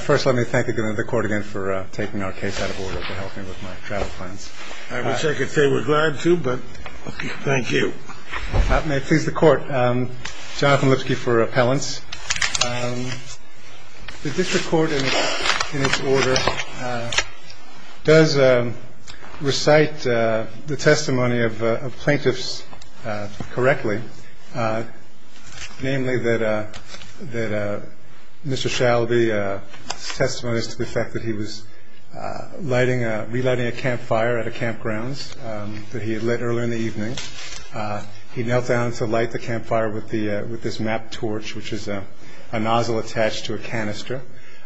First, let me thank the court again for taking our case out of order and helping with my travel plans. I wish I could say we're glad to, but thank you. May it please the court, Jonathan Lipsky for appellants. The district court in its order does recite the testimony of plaintiffs correctly, namely that Mr. Shalaby's testimony is to the fact that he was relighting a campfire at a campground that he had lit earlier in the evening. He knelt down to light the campfire with this map torch, which is a nozzle attached to a canister,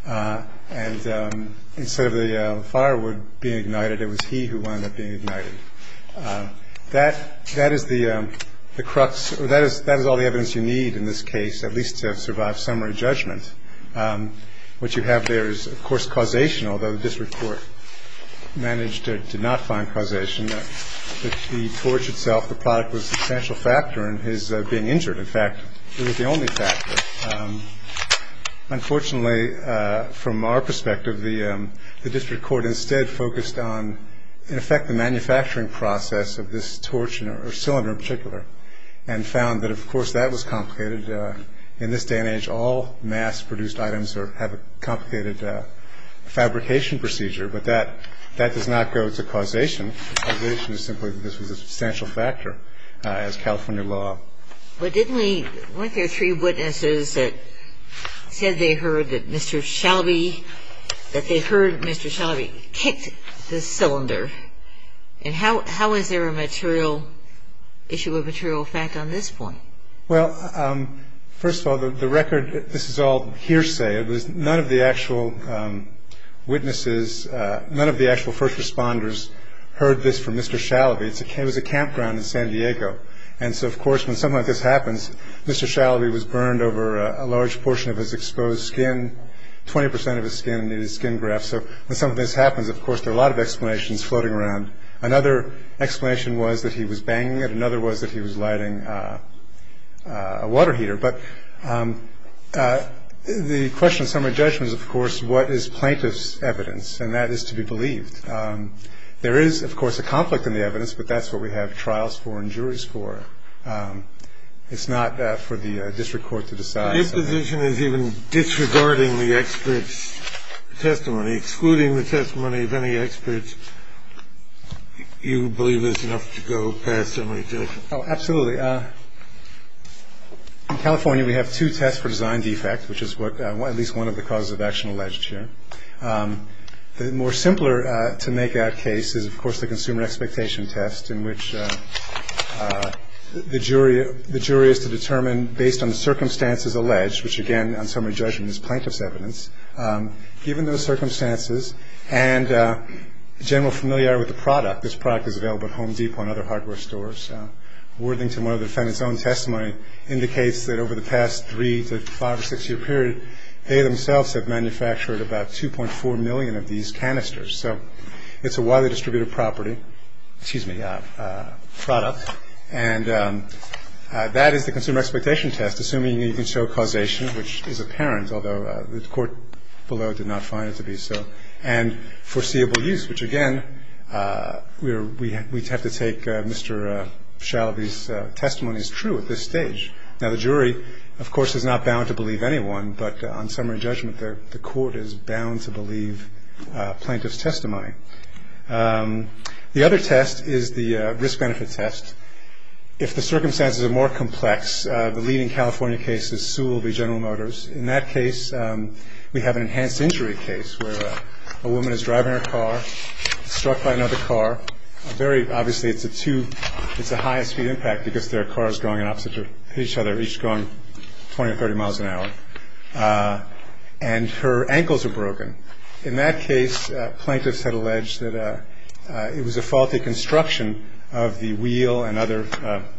and instead of the firewood being ignited, it was he who wound up being ignited. That is all the evidence you need in this case, at least to survive summary judgment. What you have there is, of course, causation, although the district court managed to not find causation. I mentioned that the torch itself, the product, was a substantial factor in his being injured. In fact, it was the only factor. Unfortunately, from our perspective, the district court instead focused on, in effect, the manufacturing process of this torch or cylinder in particular, and found that, of course, that was complicated. In this day and age, all mass-produced items have a complicated fabrication procedure, but that does not go to causation. Causation is simply that this was a substantial factor as California law. But didn't we – weren't there three witnesses that said they heard that Mr. Shalaby – that they heard Mr. Shalaby kicked this cylinder? And how is there a material – issue of material fact on this point? Well, first of all, the record – this is all hearsay. It was – none of the actual witnesses – none of the actual first responders heard this from Mr. Shalaby. It was a campground in San Diego. And so, of course, when something like this happens, Mr. Shalaby was burned over a large portion of his exposed skin. Twenty percent of his skin needed skin grafts. So when something like this happens, of course, there are a lot of explanations floating around. Another explanation was that he was banging it. Another was that he was lighting a water heater. But the question of summary judgment is, of course, what is plaintiff's evidence? And that is to be believed. There is, of course, a conflict in the evidence, but that's what we have trials for and juries for. It's not for the district court to decide. Your position is even disregarding the expert's testimony, excluding the testimony of any experts you believe is enough to go past summary judgment. Oh, absolutely. In California, we have two tests for design defect, which is what – at least one of the causes of action alleged here. The more simpler to make out case is, of course, the consumer expectation test, in which the jury is to determine based on the circumstances alleged, which, again, on summary judgment is plaintiff's evidence, given those circumstances and general familiarity with the product. This product is available at Home Depot and other hardware stores. Worthington, one of the defendants' own testimony, indicates that over the past three to five or six-year period, they themselves have manufactured about 2.4 million of these canisters. So it's a widely distributed property – excuse me – product, and that is the consumer expectation test, assuming you can show causation, which is apparent, although the court below did not find it to be so, and foreseeable use, which, again, we have to take Mr. Shalaby's testimony as true at this stage. Now, the jury, of course, is not bound to believe anyone, but on summary judgment, the court is bound to believe plaintiff's testimony. The other test is the risk-benefit test. If the circumstances are more complex, the leading California case is Sewell v. General Motors. In that case, we have an enhanced injury case, where a woman is driving her car, struck by another car. Obviously, it's a high-speed impact because their car is going opposite each other, each going 20 or 30 miles an hour, and her ankles are broken. In that case, plaintiffs had alleged that it was a faulty construction of the wheel and other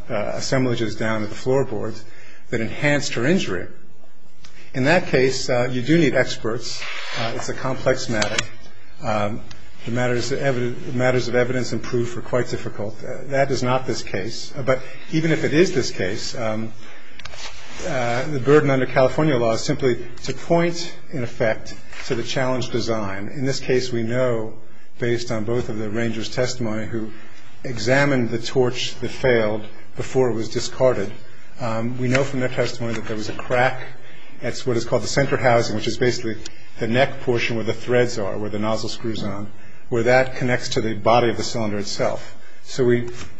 assemblages down at the floorboards that enhanced her injury. In that case, you do need experts. It's a complex matter. The matters of evidence and proof are quite difficult. That is not this case. But even if it is this case, the burden under California law is simply to point, in effect, to the challenge design. In this case, we know, based on both of the arranger's testimony, who examined the torch that failed before it was discarded, we know from their testimony that there was a crack at what is called the center housing, which is basically the neck portion where the threads are, where the nozzle screw is on, where that connects to the body of the cylinder itself. So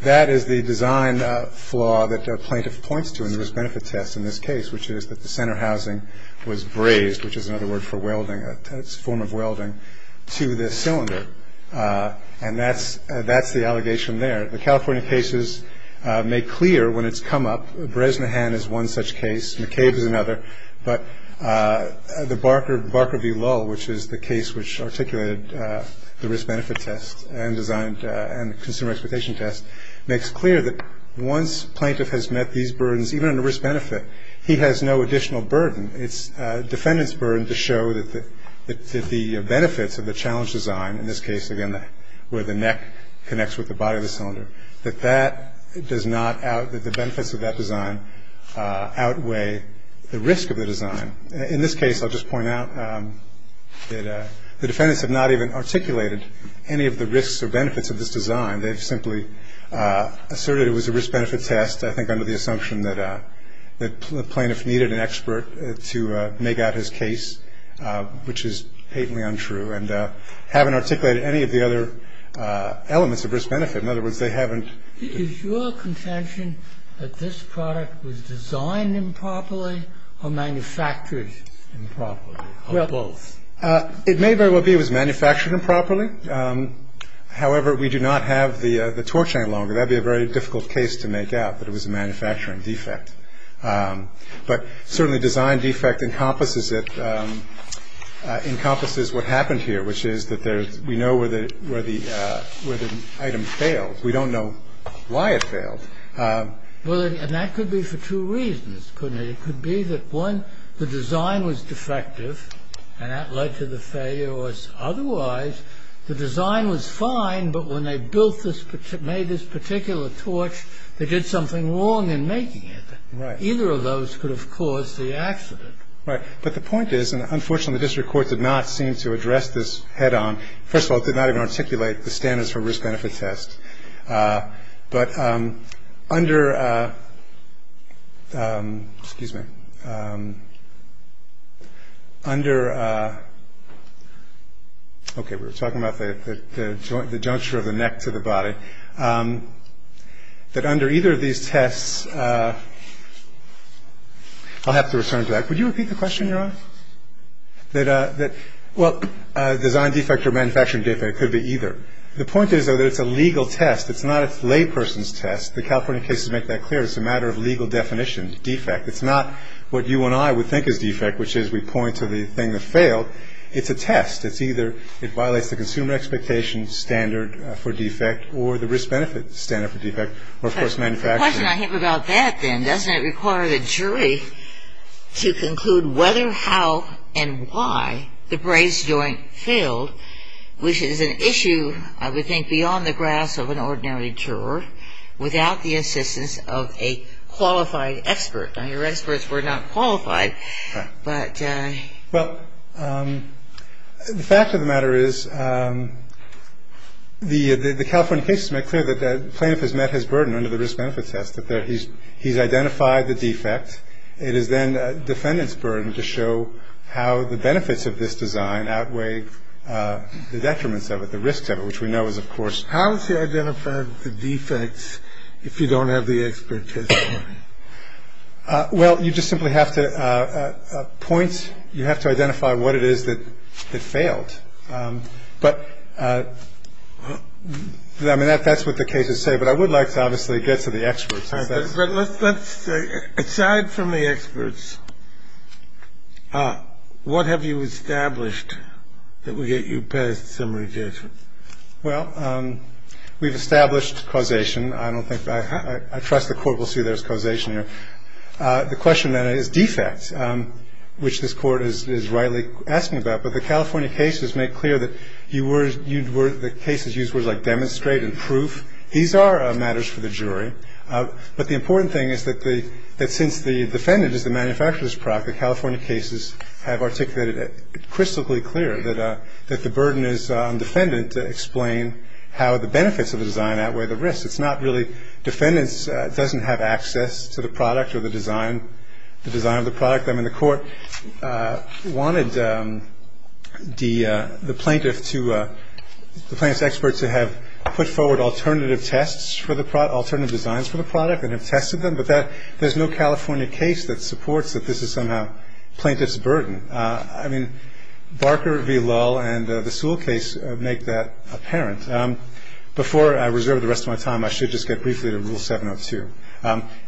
that is the design flaw that a plaintiff points to in this benefit test in this case, which is that the center housing was brazed, which is another word for welding, a form of welding, to the cylinder. And that's the allegation there. The California case is made clear when it's come up. Bresnahan is one such case. McCabe is another. But the Barker v. Lull, which is the case which articulated the risk-benefit test and the consumer expectation test, makes clear that once a plaintiff has met these burdens, even under risk-benefit, he has no additional burden. It's the defendant's burden to show that the benefits of the challenge design, in this case, again, where the neck connects with the body of the cylinder, that the benefits of that design outweigh the risk of the design. In this case, I'll just point out that the defendants have not even articulated any of the risks or benefits of this design. They've simply asserted it was a risk-benefit test, I think under the assumption that the plaintiff needed an expert to make out his case, which is patently untrue, and haven't articulated any of the other elements of risk-benefit. In other words, they haven't. Is your contention that this product was designed improperly or manufactured improperly, or both? It may very well be it was manufactured improperly. However, we do not have the torch any longer. That would be a very difficult case to make out, that it was a manufacturing defect. But certainly design defect encompasses it, encompasses what happened here, which is that we know where the item failed. We don't know why it failed. Well, and that could be for two reasons, couldn't it? It could be that, one, the design was defective, and that led to the failure, or otherwise, the design was fine, but when they built this, made this particular torch, they did something wrong in making it. Right. Either of those could have caused the accident. Right. But the point is, and unfortunately, the district court did not seem to address this head-on. First of all, it did not even articulate the standards for risk-benefit test. But under, excuse me, under, okay, we were talking about the juncture of the neck to the body, that under either of these tests, I'll have to return to that. Would you repeat the question, Your Honor? That, well, design defect or manufacturing defect, it could be either. The point is, though, that it's a legal test. It's not a layperson's test. The California cases make that clear. It's a matter of legal definition, defect. It's not what you and I would think is defect, which is we point to the thing that failed. It's a test. It's either it violates the consumer expectation standard for defect or the risk-benefit standard for defect, or, of course, manufacturing. The question I have about that, then, doesn't it require the jury to conclude whether, how, and why the brace joint failed, which is an issue, I would think, beyond the grasp of an ordinary juror, without the assistance of a qualified expert. Now, your experts were not qualified, but. Well, the fact of the matter is the California cases make clear that the plaintiff has met his burden under the risk-benefit test, that he's identified the defect. It is then the defendant's burden to show how the benefits of this design outweigh the detriments of it, the risks of it, which we know is, of course. How is he going to find the defects if you don't have the expertise? Well, you just simply have to point. You have to identify what it is that failed. I think that's what the case is saying. But I would like to obviously get to the experts. But let's say, aside from the experts, what have you established that would get you past summary judgment? Well, we've established causation. I don't think I trust the Court will see there's causation here. The question, then, is defects, which this Court is rightly asking about. But the California cases make clear that the cases use words like demonstrate and proof. These are matters for the jury. But the important thing is that since the defendant is the manufacturer's product, the California cases have articulated it crystallically clear that the burden is on the defendant to explain how the benefits of the design outweigh the risks. It's not really defendants doesn't have access to the product or the design of the product. I mean, the Court wanted the plaintiff to, the plaintiff's experts to have put forward alternative tests for the product, alternative designs for the product and have tested them. But there's no California case that supports that this is somehow plaintiff's burden. I mean, Barker v. Lull and the Sewell case make that apparent. Before I reserve the rest of my time, I should just get briefly to Rule 702.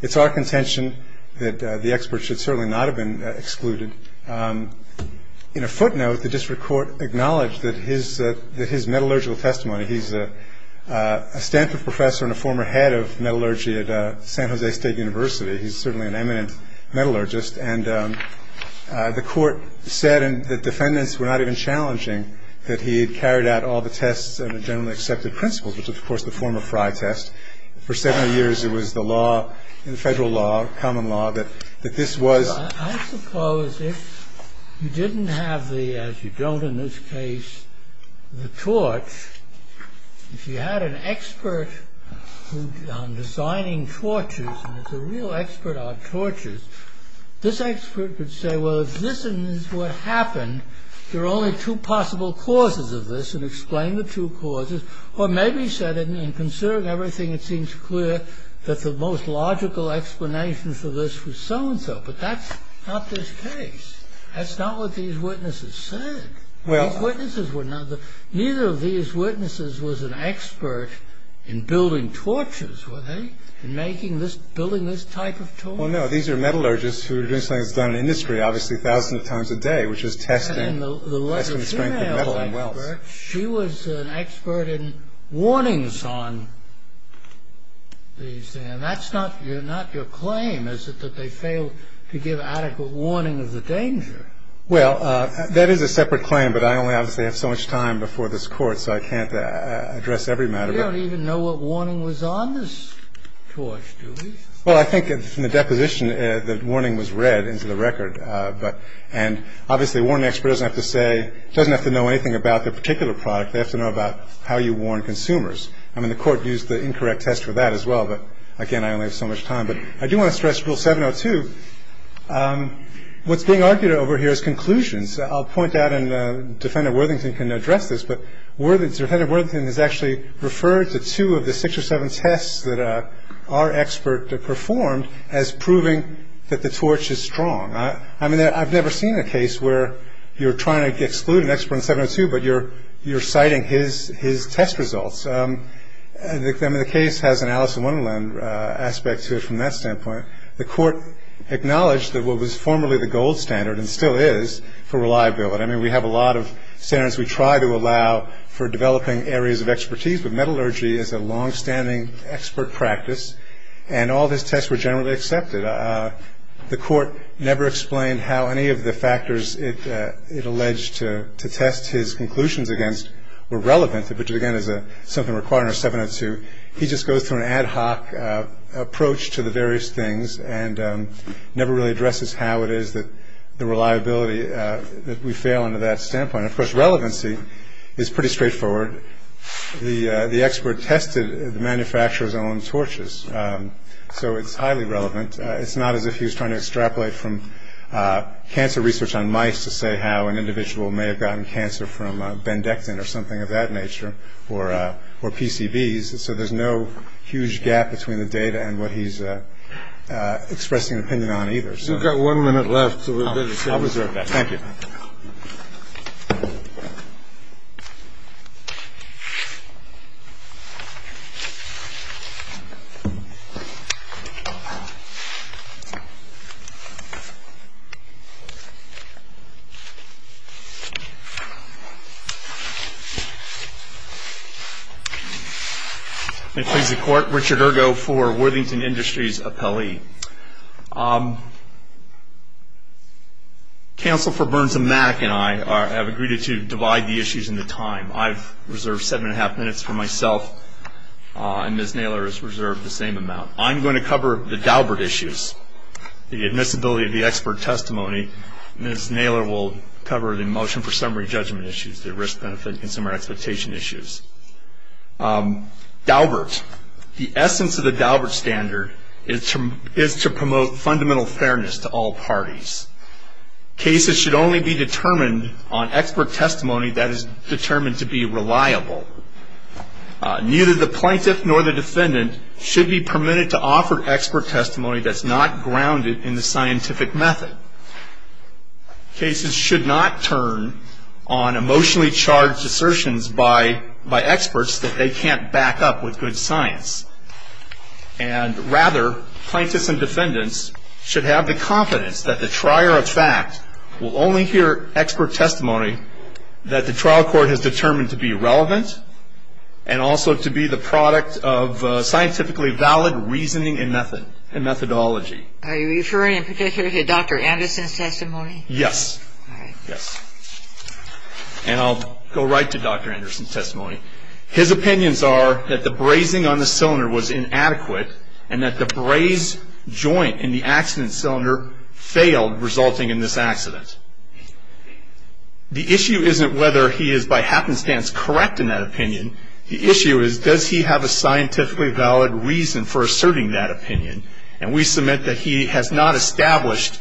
It's our contention that the experts should certainly not have been excluded. In a footnote, the district court acknowledged that his metallurgical testimony, he's a Stanford professor and a former head of metallurgy at San Jose State University. He's certainly an eminent metallurgist. And the court said that defendants were not even challenging that he had carried out all the tests under generally accepted principles, which was, of course, the former Frye test. For 70 years, it was the law, the federal law, the common law, that this was I suppose if you didn't have the, as you don't in this case, the torch, if you had an expert on designing torches, a real expert on torches, this expert could say, well, if this is what happened, there are only two possible causes of this and explain the two causes. Or maybe he said, in considering everything, it seems clear that the most logical explanation for this was so-and-so. But that's not this case. That's not what these witnesses said. Neither of these witnesses was an expert in building torches, were they? In making this, building this type of torch. Well, no, these are metallurgists who are doing something that's done in industry, obviously thousands of times a day, which is testing the strength of metal and welds. But she was an expert in warnings on these. And that's not your claim, is it, that they failed to give adequate warning of the danger? Well, that is a separate claim, but I only obviously have so much time before this Court, so I can't address every matter. You don't even know what warning was on this torch, do you? Well, I think from the deposition, the warning was read into the record. And obviously a warning expert doesn't have to know anything about the particular product. They have to know about how you warn consumers. I mean, the Court used the incorrect test for that as well, but again, I only have so much time. But I do want to stress Rule 702. What's being argued over here is conclusions. I'll point out, and Defendant Worthington can address this, but Defendant Worthington has actually referred to two of the six or seven tests that our expert performed as proving that the torch is strong. I mean, I've never seen a case where you're trying to exclude an expert in 702, but you're citing his test results. I mean, the case has an Alice in Wonderland aspect to it from that standpoint. The Court acknowledged that what was formerly the gold standard and still is for reliability. I mean, we have a lot of standards we try to allow for developing areas of expertise, but metallurgy is a longstanding expert practice, and all of his tests were generally accepted. The Court never explained how any of the factors it alleged to test his conclusions against were relevant, which, again, is something required under 702. He just goes through an ad hoc approach to the various things and never really addresses how it is that the reliability that we fail under that standpoint. Of course, relevancy is pretty straightforward. The expert tested the manufacturer's own torches, so it's highly relevant. It's not as if he was trying to extrapolate from cancer research on mice to say how an individual may have gotten cancer from Bendectin or something of that nature or PCBs, so there's no huge gap between the data and what he's expressing an opinion on either. We've got one minute left. I'll be right back. Thank you. May it please the Court. Richard Urgo for Worthington Industries Appellee. Counsel for Burns and Mack and I have agreed to divide the issues into time. I've reserved seven and a half minutes for myself, and Ms. Naylor has reserved the same amount. I'm going to cover the Daubert issues, the admissibility of the expert testimony. Ms. Naylor will cover the motion for summary judgment issues, the risk-benefit and consumer expectation issues. Daubert. The essence of the Daubert standard is to promote fundamental fairness to all parties. Cases should only be determined on expert testimony that is determined to be reliable. Neither the plaintiff nor the defendant should be permitted to offer expert testimony that's not grounded in the scientific method. Cases should not turn on emotionally charged assertions by experts that they can't back up with good science. And rather, plaintiffs and defendants should have the confidence that the trier of fact will only hear expert testimony that the trial court has determined to be relevant and also to be the product of scientifically valid reasoning and methodology. Are you referring in particular to Dr. Anderson's testimony? Yes. All right. Yes. And I'll go right to Dr. Anderson's testimony. His opinions are that the brazing on the cylinder was inadequate and that the braze joint in the accident cylinder failed, resulting in this accident. The issue isn't whether he is by happenstance correct in that opinion. The issue is, does he have a scientifically valid reason for asserting that opinion? And we submit that he has not established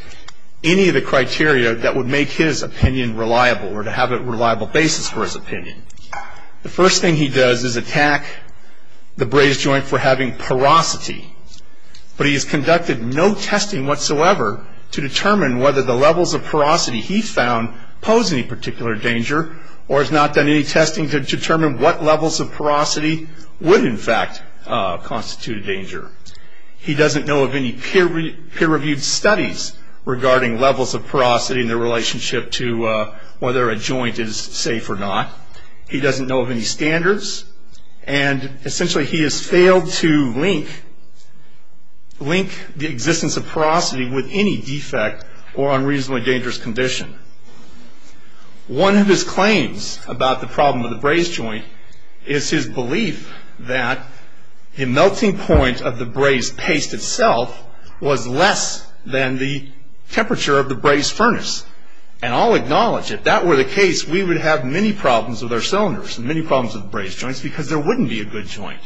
any of the criteria that would make his opinion reliable or to have a reliable basis for his opinion. The first thing he does is attack the braze joint for having porosity. But he has conducted no testing whatsoever to determine whether the levels of porosity he found pose any particular danger or has not done any testing to determine what levels of porosity would, in fact, constitute a danger. He doesn't know of any peer-reviewed studies regarding levels of porosity and their relationship to whether a joint is safe or not. He doesn't know of any standards. And essentially, he has failed to link the existence of porosity with any defect or unreasonably dangerous condition. One of his claims about the problem of the braze joint is his belief that the melting point of the braze paste itself was less than the temperature of the braze furnace. And I'll acknowledge, if that were the case, we would have many problems with our cylinders and many problems with braze joints because there wouldn't be a good joint.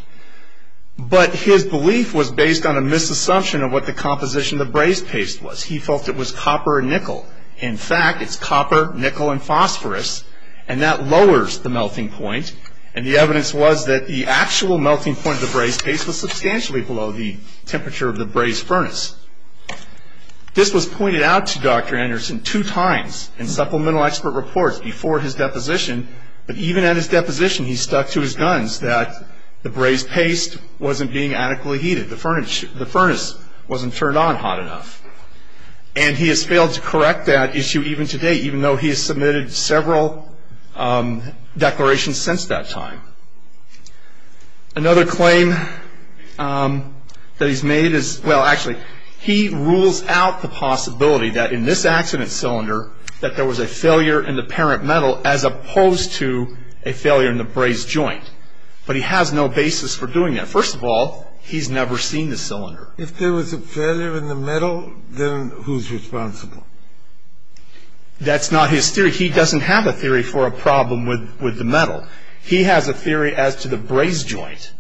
But his belief was based on a misassumption of what the composition of the braze paste was. He felt it was copper and nickel. In fact, it's copper, nickel, and phosphorus, and that lowers the melting point. And the evidence was that the actual melting point of the braze paste was substantially below the temperature of the braze furnace. This was pointed out to Dr. Anderson two times in supplemental expert reports before his deposition. But even at his deposition, he stuck to his guns that the braze paste wasn't being adequately heated. The furnace wasn't turned on hot enough. And he has failed to correct that issue even today, even though he has submitted several declarations since that time. Another claim that he's made is, well, actually, he rules out the possibility that in this accident cylinder that there was a failure in the parent metal as opposed to a failure in the braze joint. But he has no basis for doing that. First of all, he's never seen the cylinder. If there was a failure in the metal, then who's responsible? That's not his theory. He doesn't have a theory for a problem with the metal. He has a theory as to the braze joint.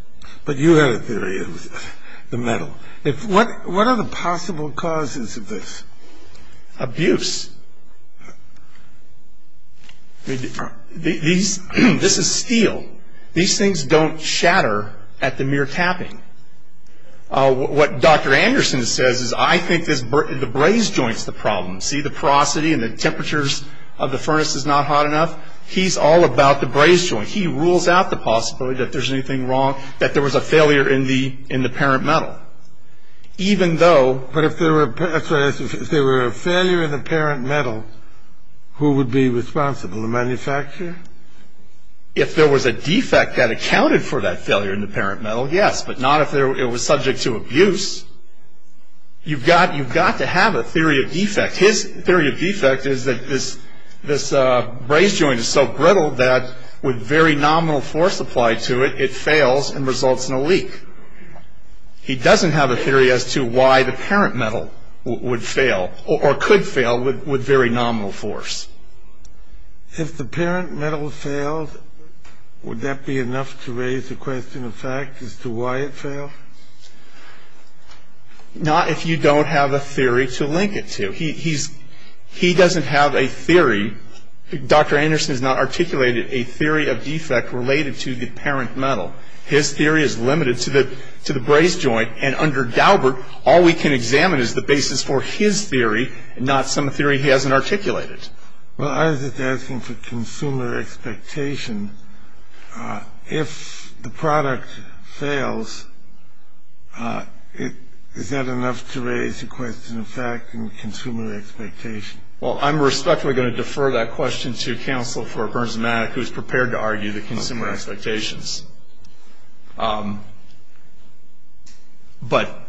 But you have a theory of the metal. What are the possible causes of this? Abuse. This is steel. These things don't shatter at the mere tapping. What Dr. Anderson says is, I think the braze joint's the problem. See the porosity and the temperatures of the furnace is not hot enough? He's all about the braze joint. He rules out the possibility that there's anything wrong, that there was a failure in the parent metal. Even though... But if there were a failure in the parent metal, who would be responsible? The manufacturer? If there was a defect that accounted for that failure in the parent metal, yes, but not if it was subject to abuse. You've got to have a theory of defect. His theory of defect is that this braze joint is so brittle that, with very nominal force applied to it, it fails and results in a leak. He doesn't have a theory as to why the parent metal would fail, or could fail, with very nominal force. If the parent metal failed, would that be enough to raise the question of fact as to why it failed? Not if you don't have a theory to link it to. He doesn't have a theory. Dr. Anderson has not articulated a theory of defect related to the parent metal. His theory is limited to the braze joint, and under Galbert, all we can examine is the basis for his theory, not some theory he hasn't articulated. Well, I was just asking for consumer expectation. If the product fails, is that enough to raise the question of fact and consumer expectation? Well, I'm respectfully going to defer that question to counsel for Burns & Maddock, who's prepared to argue the consumer expectations. But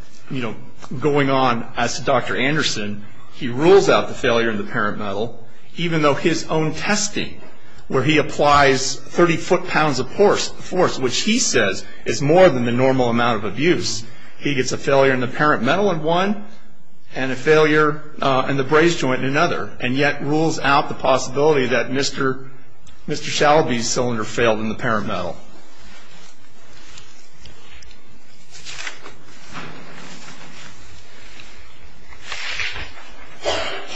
going on, as to Dr. Anderson, he rules out the failure of the parent metal, even though his own testing, where he applies 30 foot pounds of force, which he says is more than the normal amount of abuse. He gets a failure in the parent metal in one, and a failure in the braze joint in another, and yet rules out the possibility that Mr. Shalby's cylinder failed in the parent metal.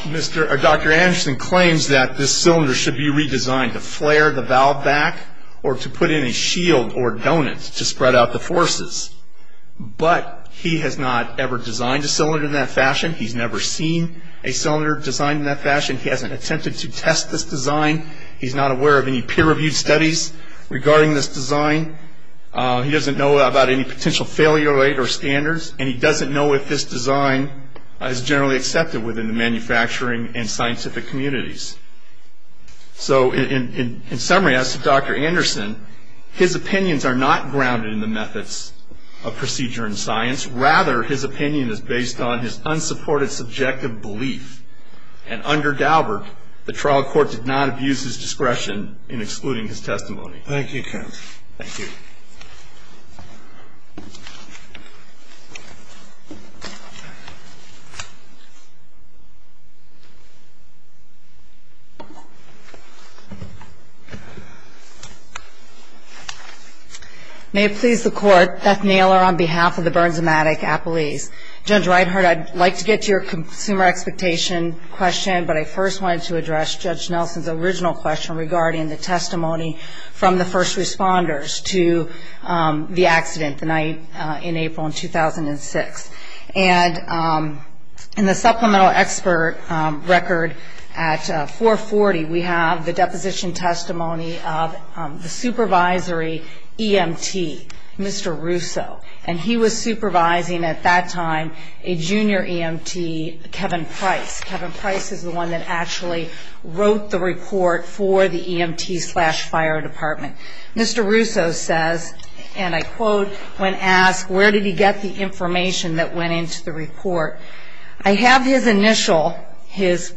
Well, Dr. Anderson claims that this cylinder should be redesigned to flare the valve back or to put in a shield or donut to spread out the forces, but he has not ever designed a cylinder in that fashion. He's never seen a cylinder designed in that fashion. He hasn't attempted to test this design. He's not aware of any peer-reviewed studies regarding this design. He doesn't know about any potential failure rate or standards, and he doesn't know if this design is generally accepted within the manufacturing and scientific communities. So in summary, as to Dr. Anderson, his opinions are not grounded in the methods of procedure in science. Rather, his opinion is based on his unsupported subjective belief, and under Daubert, the trial court did not abuse his discretion in excluding his testimony. Thank you, counsel. Thank you. May it please the Court, Beth Naylor on behalf of the Burns-O-Matic appellees. Judge Reinhart, I'd like to get to your consumer expectation question, but I first wanted to address Judge Nelson's original question regarding the testimony from the first responders to the accident the night in April in 2006. And in the supplemental expert record at 440, we have the deposition testimony of the supervisory EMT, Mr. Russo, and he was supervising at that time a junior EMT, Kevin Price. Kevin Price is the one that actually wrote the report for the EMT slash fire department. Mr. Russo says, and I quote when asked where did he get the information that went into the report, I have his initial, his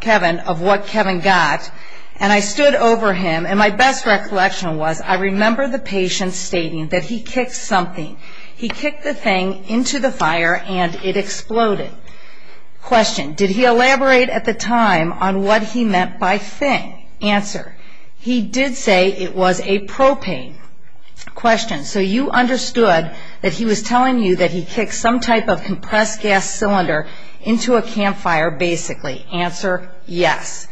Kevin, of what Kevin got, and I stood over him, and my best recollection was I remember the patient stating that he kicked something. He kicked the thing into the fire and it exploded. Question, did he elaborate at the time on what he meant by thing? Answer, he did say it was a propane. Question, so you understood that he was telling you that he kicked some type of compressed gas cylinder into a campfire basically? Answer, yes.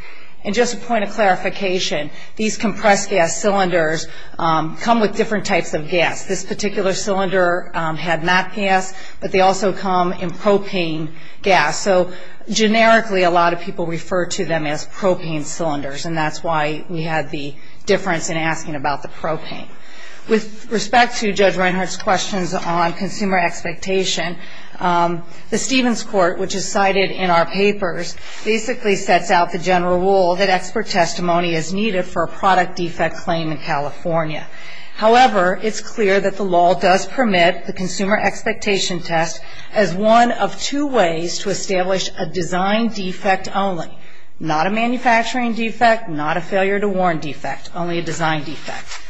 And just a point of clarification, these compressed gas cylinders come with different types of gas. This particular cylinder had not gas, but they also come in propane gas. So generically a lot of people refer to them as propane cylinders, and that's why we had the difference in asking about the propane. With respect to Judge Reinhart's questions on consumer expectation, the Stevens Court, which is cited in our papers, basically sets out the general rule that expert testimony is needed for a product defect claim in California. However, it's clear that the law does permit the consumer expectation test as one of two ways to establish a design defect only, not a manufacturing defect, not a failure to warn defect, only a design defect.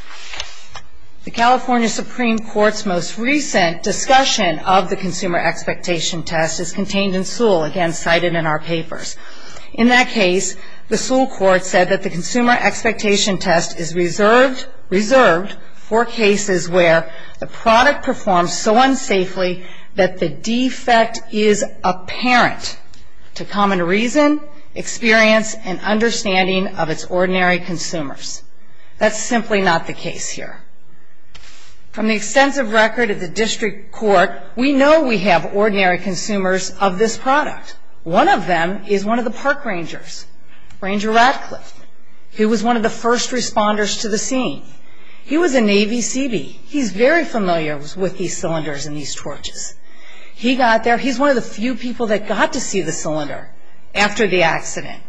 The California Supreme Court's most recent discussion of the consumer expectation test is contained in Sewell, again cited in our papers. In that case, the Sewell Court said that the consumer expectation test is reserved for cases where the product performs so unsafely that the defect is apparent to common reason, experience, and understanding of its ordinary consumers. That's simply not the case here. From the extensive record of the district court, we know we have ordinary consumers of this product. One of them is one of the park rangers, Ranger Radcliffe, who was one of the first responders to the scene. He was a Navy Seabee. He's very familiar with these cylinders and these torches. He got there. He's one of the few people that got to see the cylinder after the accident,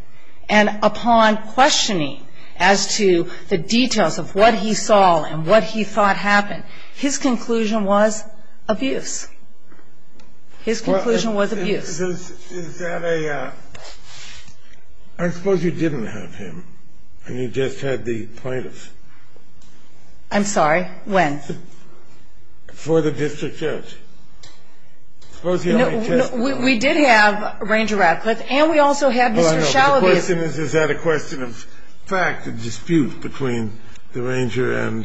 and upon questioning as to the details of what he saw and what he thought happened, his conclusion was abuse. His conclusion was abuse. I suppose you didn't have him, and you just had the plaintiffs. I'm sorry? When? Before the district judge. We did have Ranger Radcliffe, and we also had Mr. Schauer. The question is, is that a question of fact, a dispute between the ranger and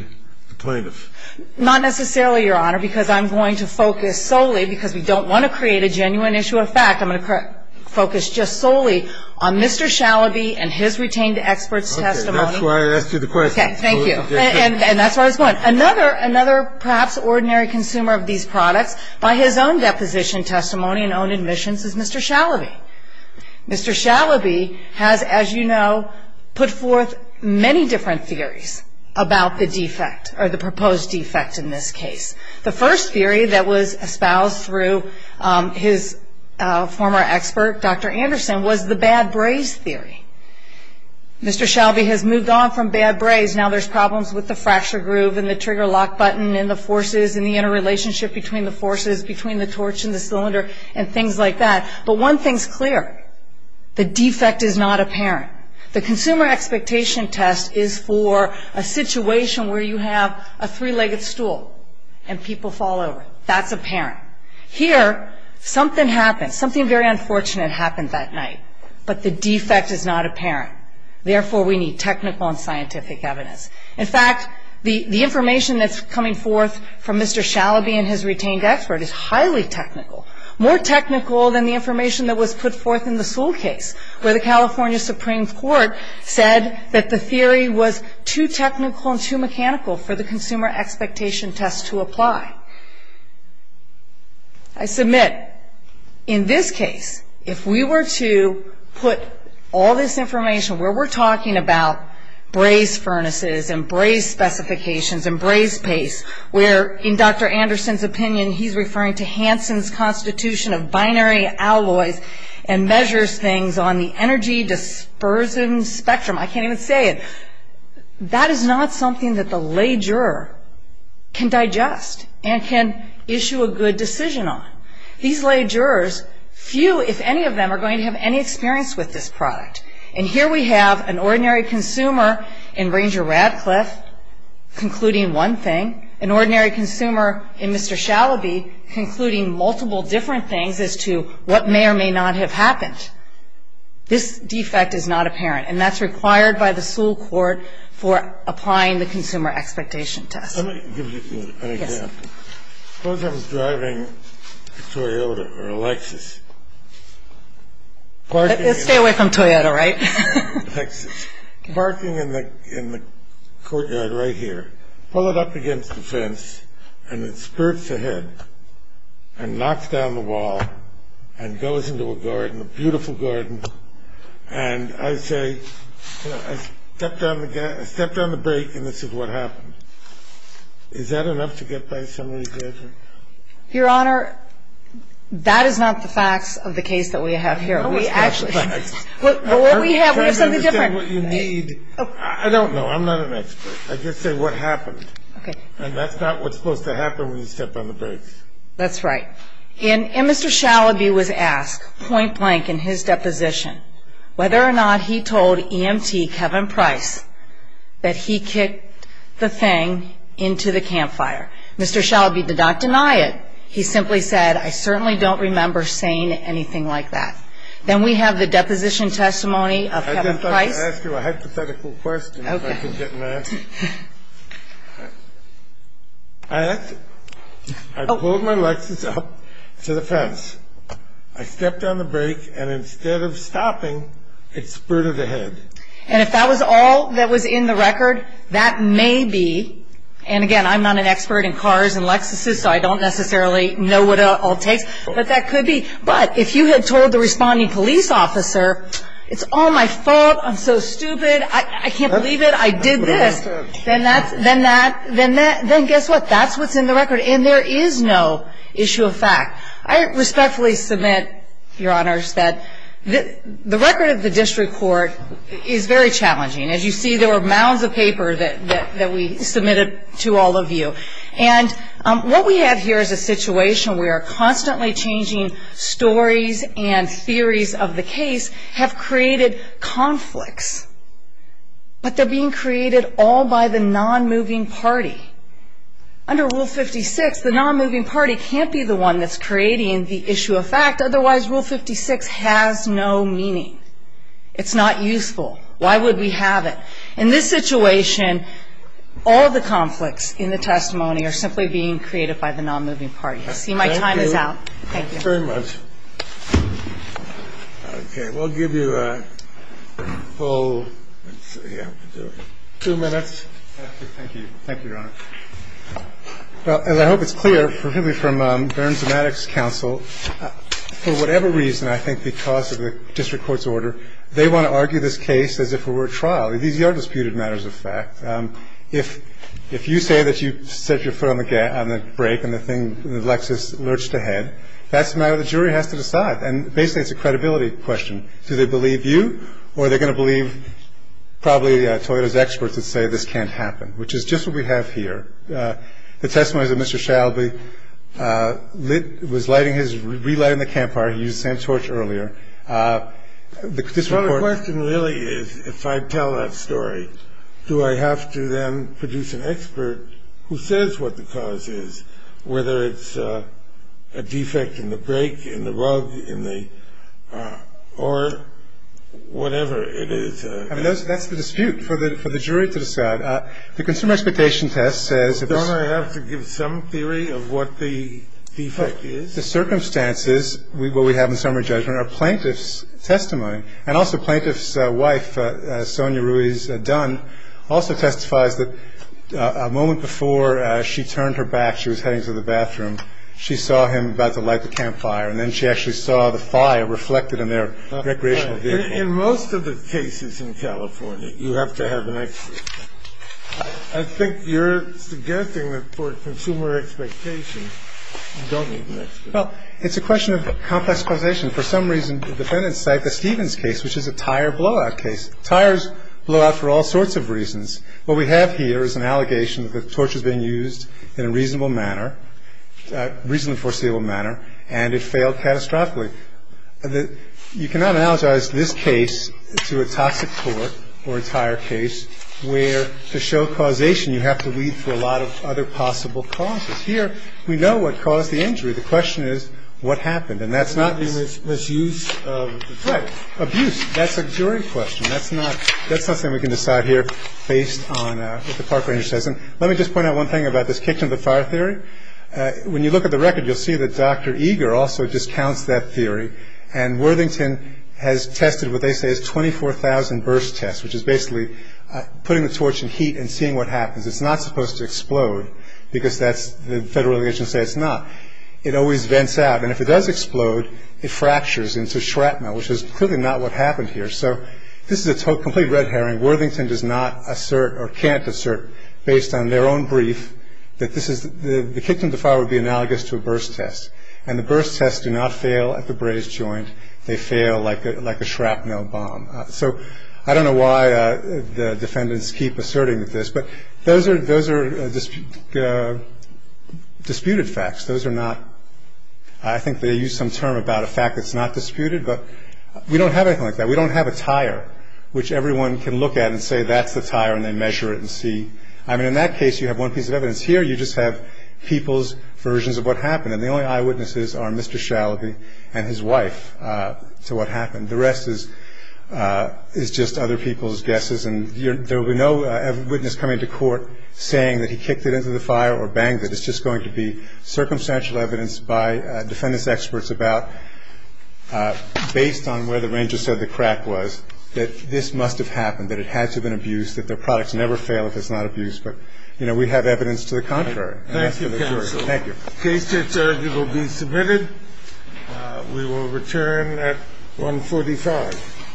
the plaintiff? Not necessarily, Your Honor, because I'm going to focus solely, because we don't want to create a genuine issue of fact, I'm going to focus just solely on Mr. Schauer and his retained experts' testimony. Okay. That's why I asked you the question. Okay. Thank you. And that's where I was going. Another perhaps ordinary consumer of these products, by his own deposition, testimony, and own admissions, is Mr. Schauer. Mr. Schauer has, as you know, put forth many different theories about the defect, or the proposed defect in this case. The first theory that was espoused through his former expert, Dr. Anderson, was the bad braze theory. Mr. Schauer has moved on from bad braze. Now there's problems with the fracture groove and the trigger lock button and the forces and the interrelationship between the forces, between the torch and the cylinder, and things like that. But one thing's clear. The defect is not apparent. The consumer expectation test is for a situation where you have a three-legged stool and people fall over. That's apparent. Here, something happened, something very unfortunate happened that night, but the defect is not apparent. Therefore, we need technical and scientific evidence. In fact, the information that's coming forth from Mr. Shalaby and his retained expert is highly technical, more technical than the information that was put forth in the Sewell case, where the California Supreme Court said that the theory was too technical and too mechanical for the consumer expectation test to apply. I submit, in this case, if we were to put all this information where we're talking about braze furnaces and braze specifications and braze pace, where, in Dr. Anderson's opinion, he's referring to Hansen's constitution of binary alloys and measures things on the energy dispersion spectrum. I can't even say it. That is not something that the lay juror can digest and can issue a good decision on. These lay jurors, few if any of them are going to have any experience with this product. And here we have an ordinary consumer in Ranger Radcliffe concluding one thing, an ordinary consumer in Mr. Shalaby concluding multiple different things as to what may or may not have happened. This defect is not apparent, and that's required by the Sewell court for applying the consumer expectation test. Let me give you an example. Suppose I was driving a Toyota or a Lexus. Stay away from Toyota, right? Lexus. Parking in the courtyard right here. Pull it up against the fence, and it spurts ahead and knocks down the wall and goes into a garden, a beautiful garden. And I say, you know, I stepped on the brake, and this is what happened. Is that enough to get by somebody's judgment? Your Honor, that is not the facts of the case that we have here. No, it's not the facts. But what we have, we have something different. I don't understand what you need. I don't know. I'm not an expert. I just say what happened. Okay. And that's not what's supposed to happen when you step on the brakes. That's right. And Mr. Shalaby was asked point blank in his deposition whether or not he told EMT Kevin Price that he kicked the thing into the campfire. Mr. Shalaby did not deny it. He simply said, I certainly don't remember saying anything like that. Then we have the deposition testimony of Kevin Price. I'd just like to ask you a hypothetical question if I could get an answer. Okay. I pulled my Lexus up to the fence. I stepped on the brake, and instead of stopping, it spurted ahead. And if that was all that was in the record, that may be. And, again, I'm not an expert in cars and Lexuses, so I don't necessarily know what all it takes. But that could be. But if you had told the responding police officer, it's all my fault, I'm so stupid, I can't believe it, I did this, then guess what? That's what's in the record. And there is no issue of fact. I respectfully submit, Your Honors, that the record of the district court is very challenging. As you see, there were mounds of paper that we submitted to all of you. And what we have here is a situation where constantly changing stories and theories of the case have created conflicts. But they're being created all by the non-moving party. Under Rule 56, the non-moving party can't be the one that's creating the issue of fact. Otherwise, Rule 56 has no meaning. It's not useful. Why would we have it? In this situation, all the conflicts in the testimony are simply being created by the non-moving party. You see, my time is out. Thank you. Thank you very much. Okay. We'll give you a full, let's see, yeah, two minutes. Thank you. Thank you, Your Honor. Well, as I hope it's clear, particularly from Burns and Maddox's counsel, for whatever reason, I think because of the district court's order, they want to argue this case as if it were a trial. These are disputed matters of fact. If you say that you set your foot on the brake and the Lexus lurched ahead, that's a matter the jury has to decide. And basically, it's a credibility question. Do they believe you? Or are they going to believe probably Toyota's experts that say this can't happen, which is just what we have here. The testimony is that Mr. Shalby was relighting the campfire. He used the same torch earlier. Well, the question really is, if I tell that story, do I have to then produce an expert who says what the cause is, whether it's a defect in the brake, in the rug, in the, or whatever it is. I mean, that's the dispute for the jury to decide. The consumer expectation test says if it's. Don't I have to give some theory of what the defect is? The circumstances, what we have in summary judgment, are plaintiff's testimony. And also plaintiff's wife, Sonia Ruiz Dunn, also testifies that a moment before she turned her back, she was heading to the bathroom. She saw him about to light the campfire, and then she actually saw the fire reflected in their recreational vehicle. In most of the cases in California, you have to have an expert. I think you're suggesting that for consumer expectation, you don't need an expert. Well, it's a question of complex causation. For some reason, the defendants cite the Stevens case, which is a tire blowout case. Tires blow out for all sorts of reasons. What we have here is an allegation that the torch was being used in a reasonable manner, reasonably foreseeable manner, and it failed catastrophically. You cannot analogize this case to a toxic torch or a tire case where to show causation, you have to lead to a lot of other possible causes. Here, we know what caused the injury. The question is what happened, and that's not the use of the torch. Right. Abuse. That's a jury question. That's not something we can decide here based on what the park ranger says. And let me just point out one thing about this kitchen of the fire theory. When you look at the record, you'll see that Dr. Eager also discounts that theory, and Worthington has tested what they say is 24,000 burst tests, which is basically putting the torch in heat and seeing what happens. It's not supposed to explode, because that's the federal allegations say it's not. It always vents out, and if it does explode, it fractures into shrapnel, which is clearly not what happened here. So this is a complete red herring. And Worthington does not assert or can't assert, based on their own brief, that the kitchen of the fire would be analogous to a burst test, and the burst tests do not fail at the braze joint. They fail like a shrapnel bomb. So I don't know why the defendants keep asserting this, but those are disputed facts. Those are not – I think they use some term about a fact that's not disputed, but we don't have anything like that. We don't have a tire, which everyone can look at and say that's the tire, and they measure it and see. I mean, in that case, you have one piece of evidence here. You just have people's versions of what happened, and the only eyewitnesses are Mr. Shalaby and his wife to what happened. The rest is just other people's guesses, and there will be no witness coming to court saying that he kicked it into the fire or banged it. I don't think there's any evidence to back up this argument. I think it's just about based on where the ranger said the crack was, that this must have happened, that it had to have been abused, that their products never fail if it's not abused. But, you know, we have evidence to the contrary. Thank you, counsel. Thank you. The case here, sir, will be submitted. We will return at 1.45.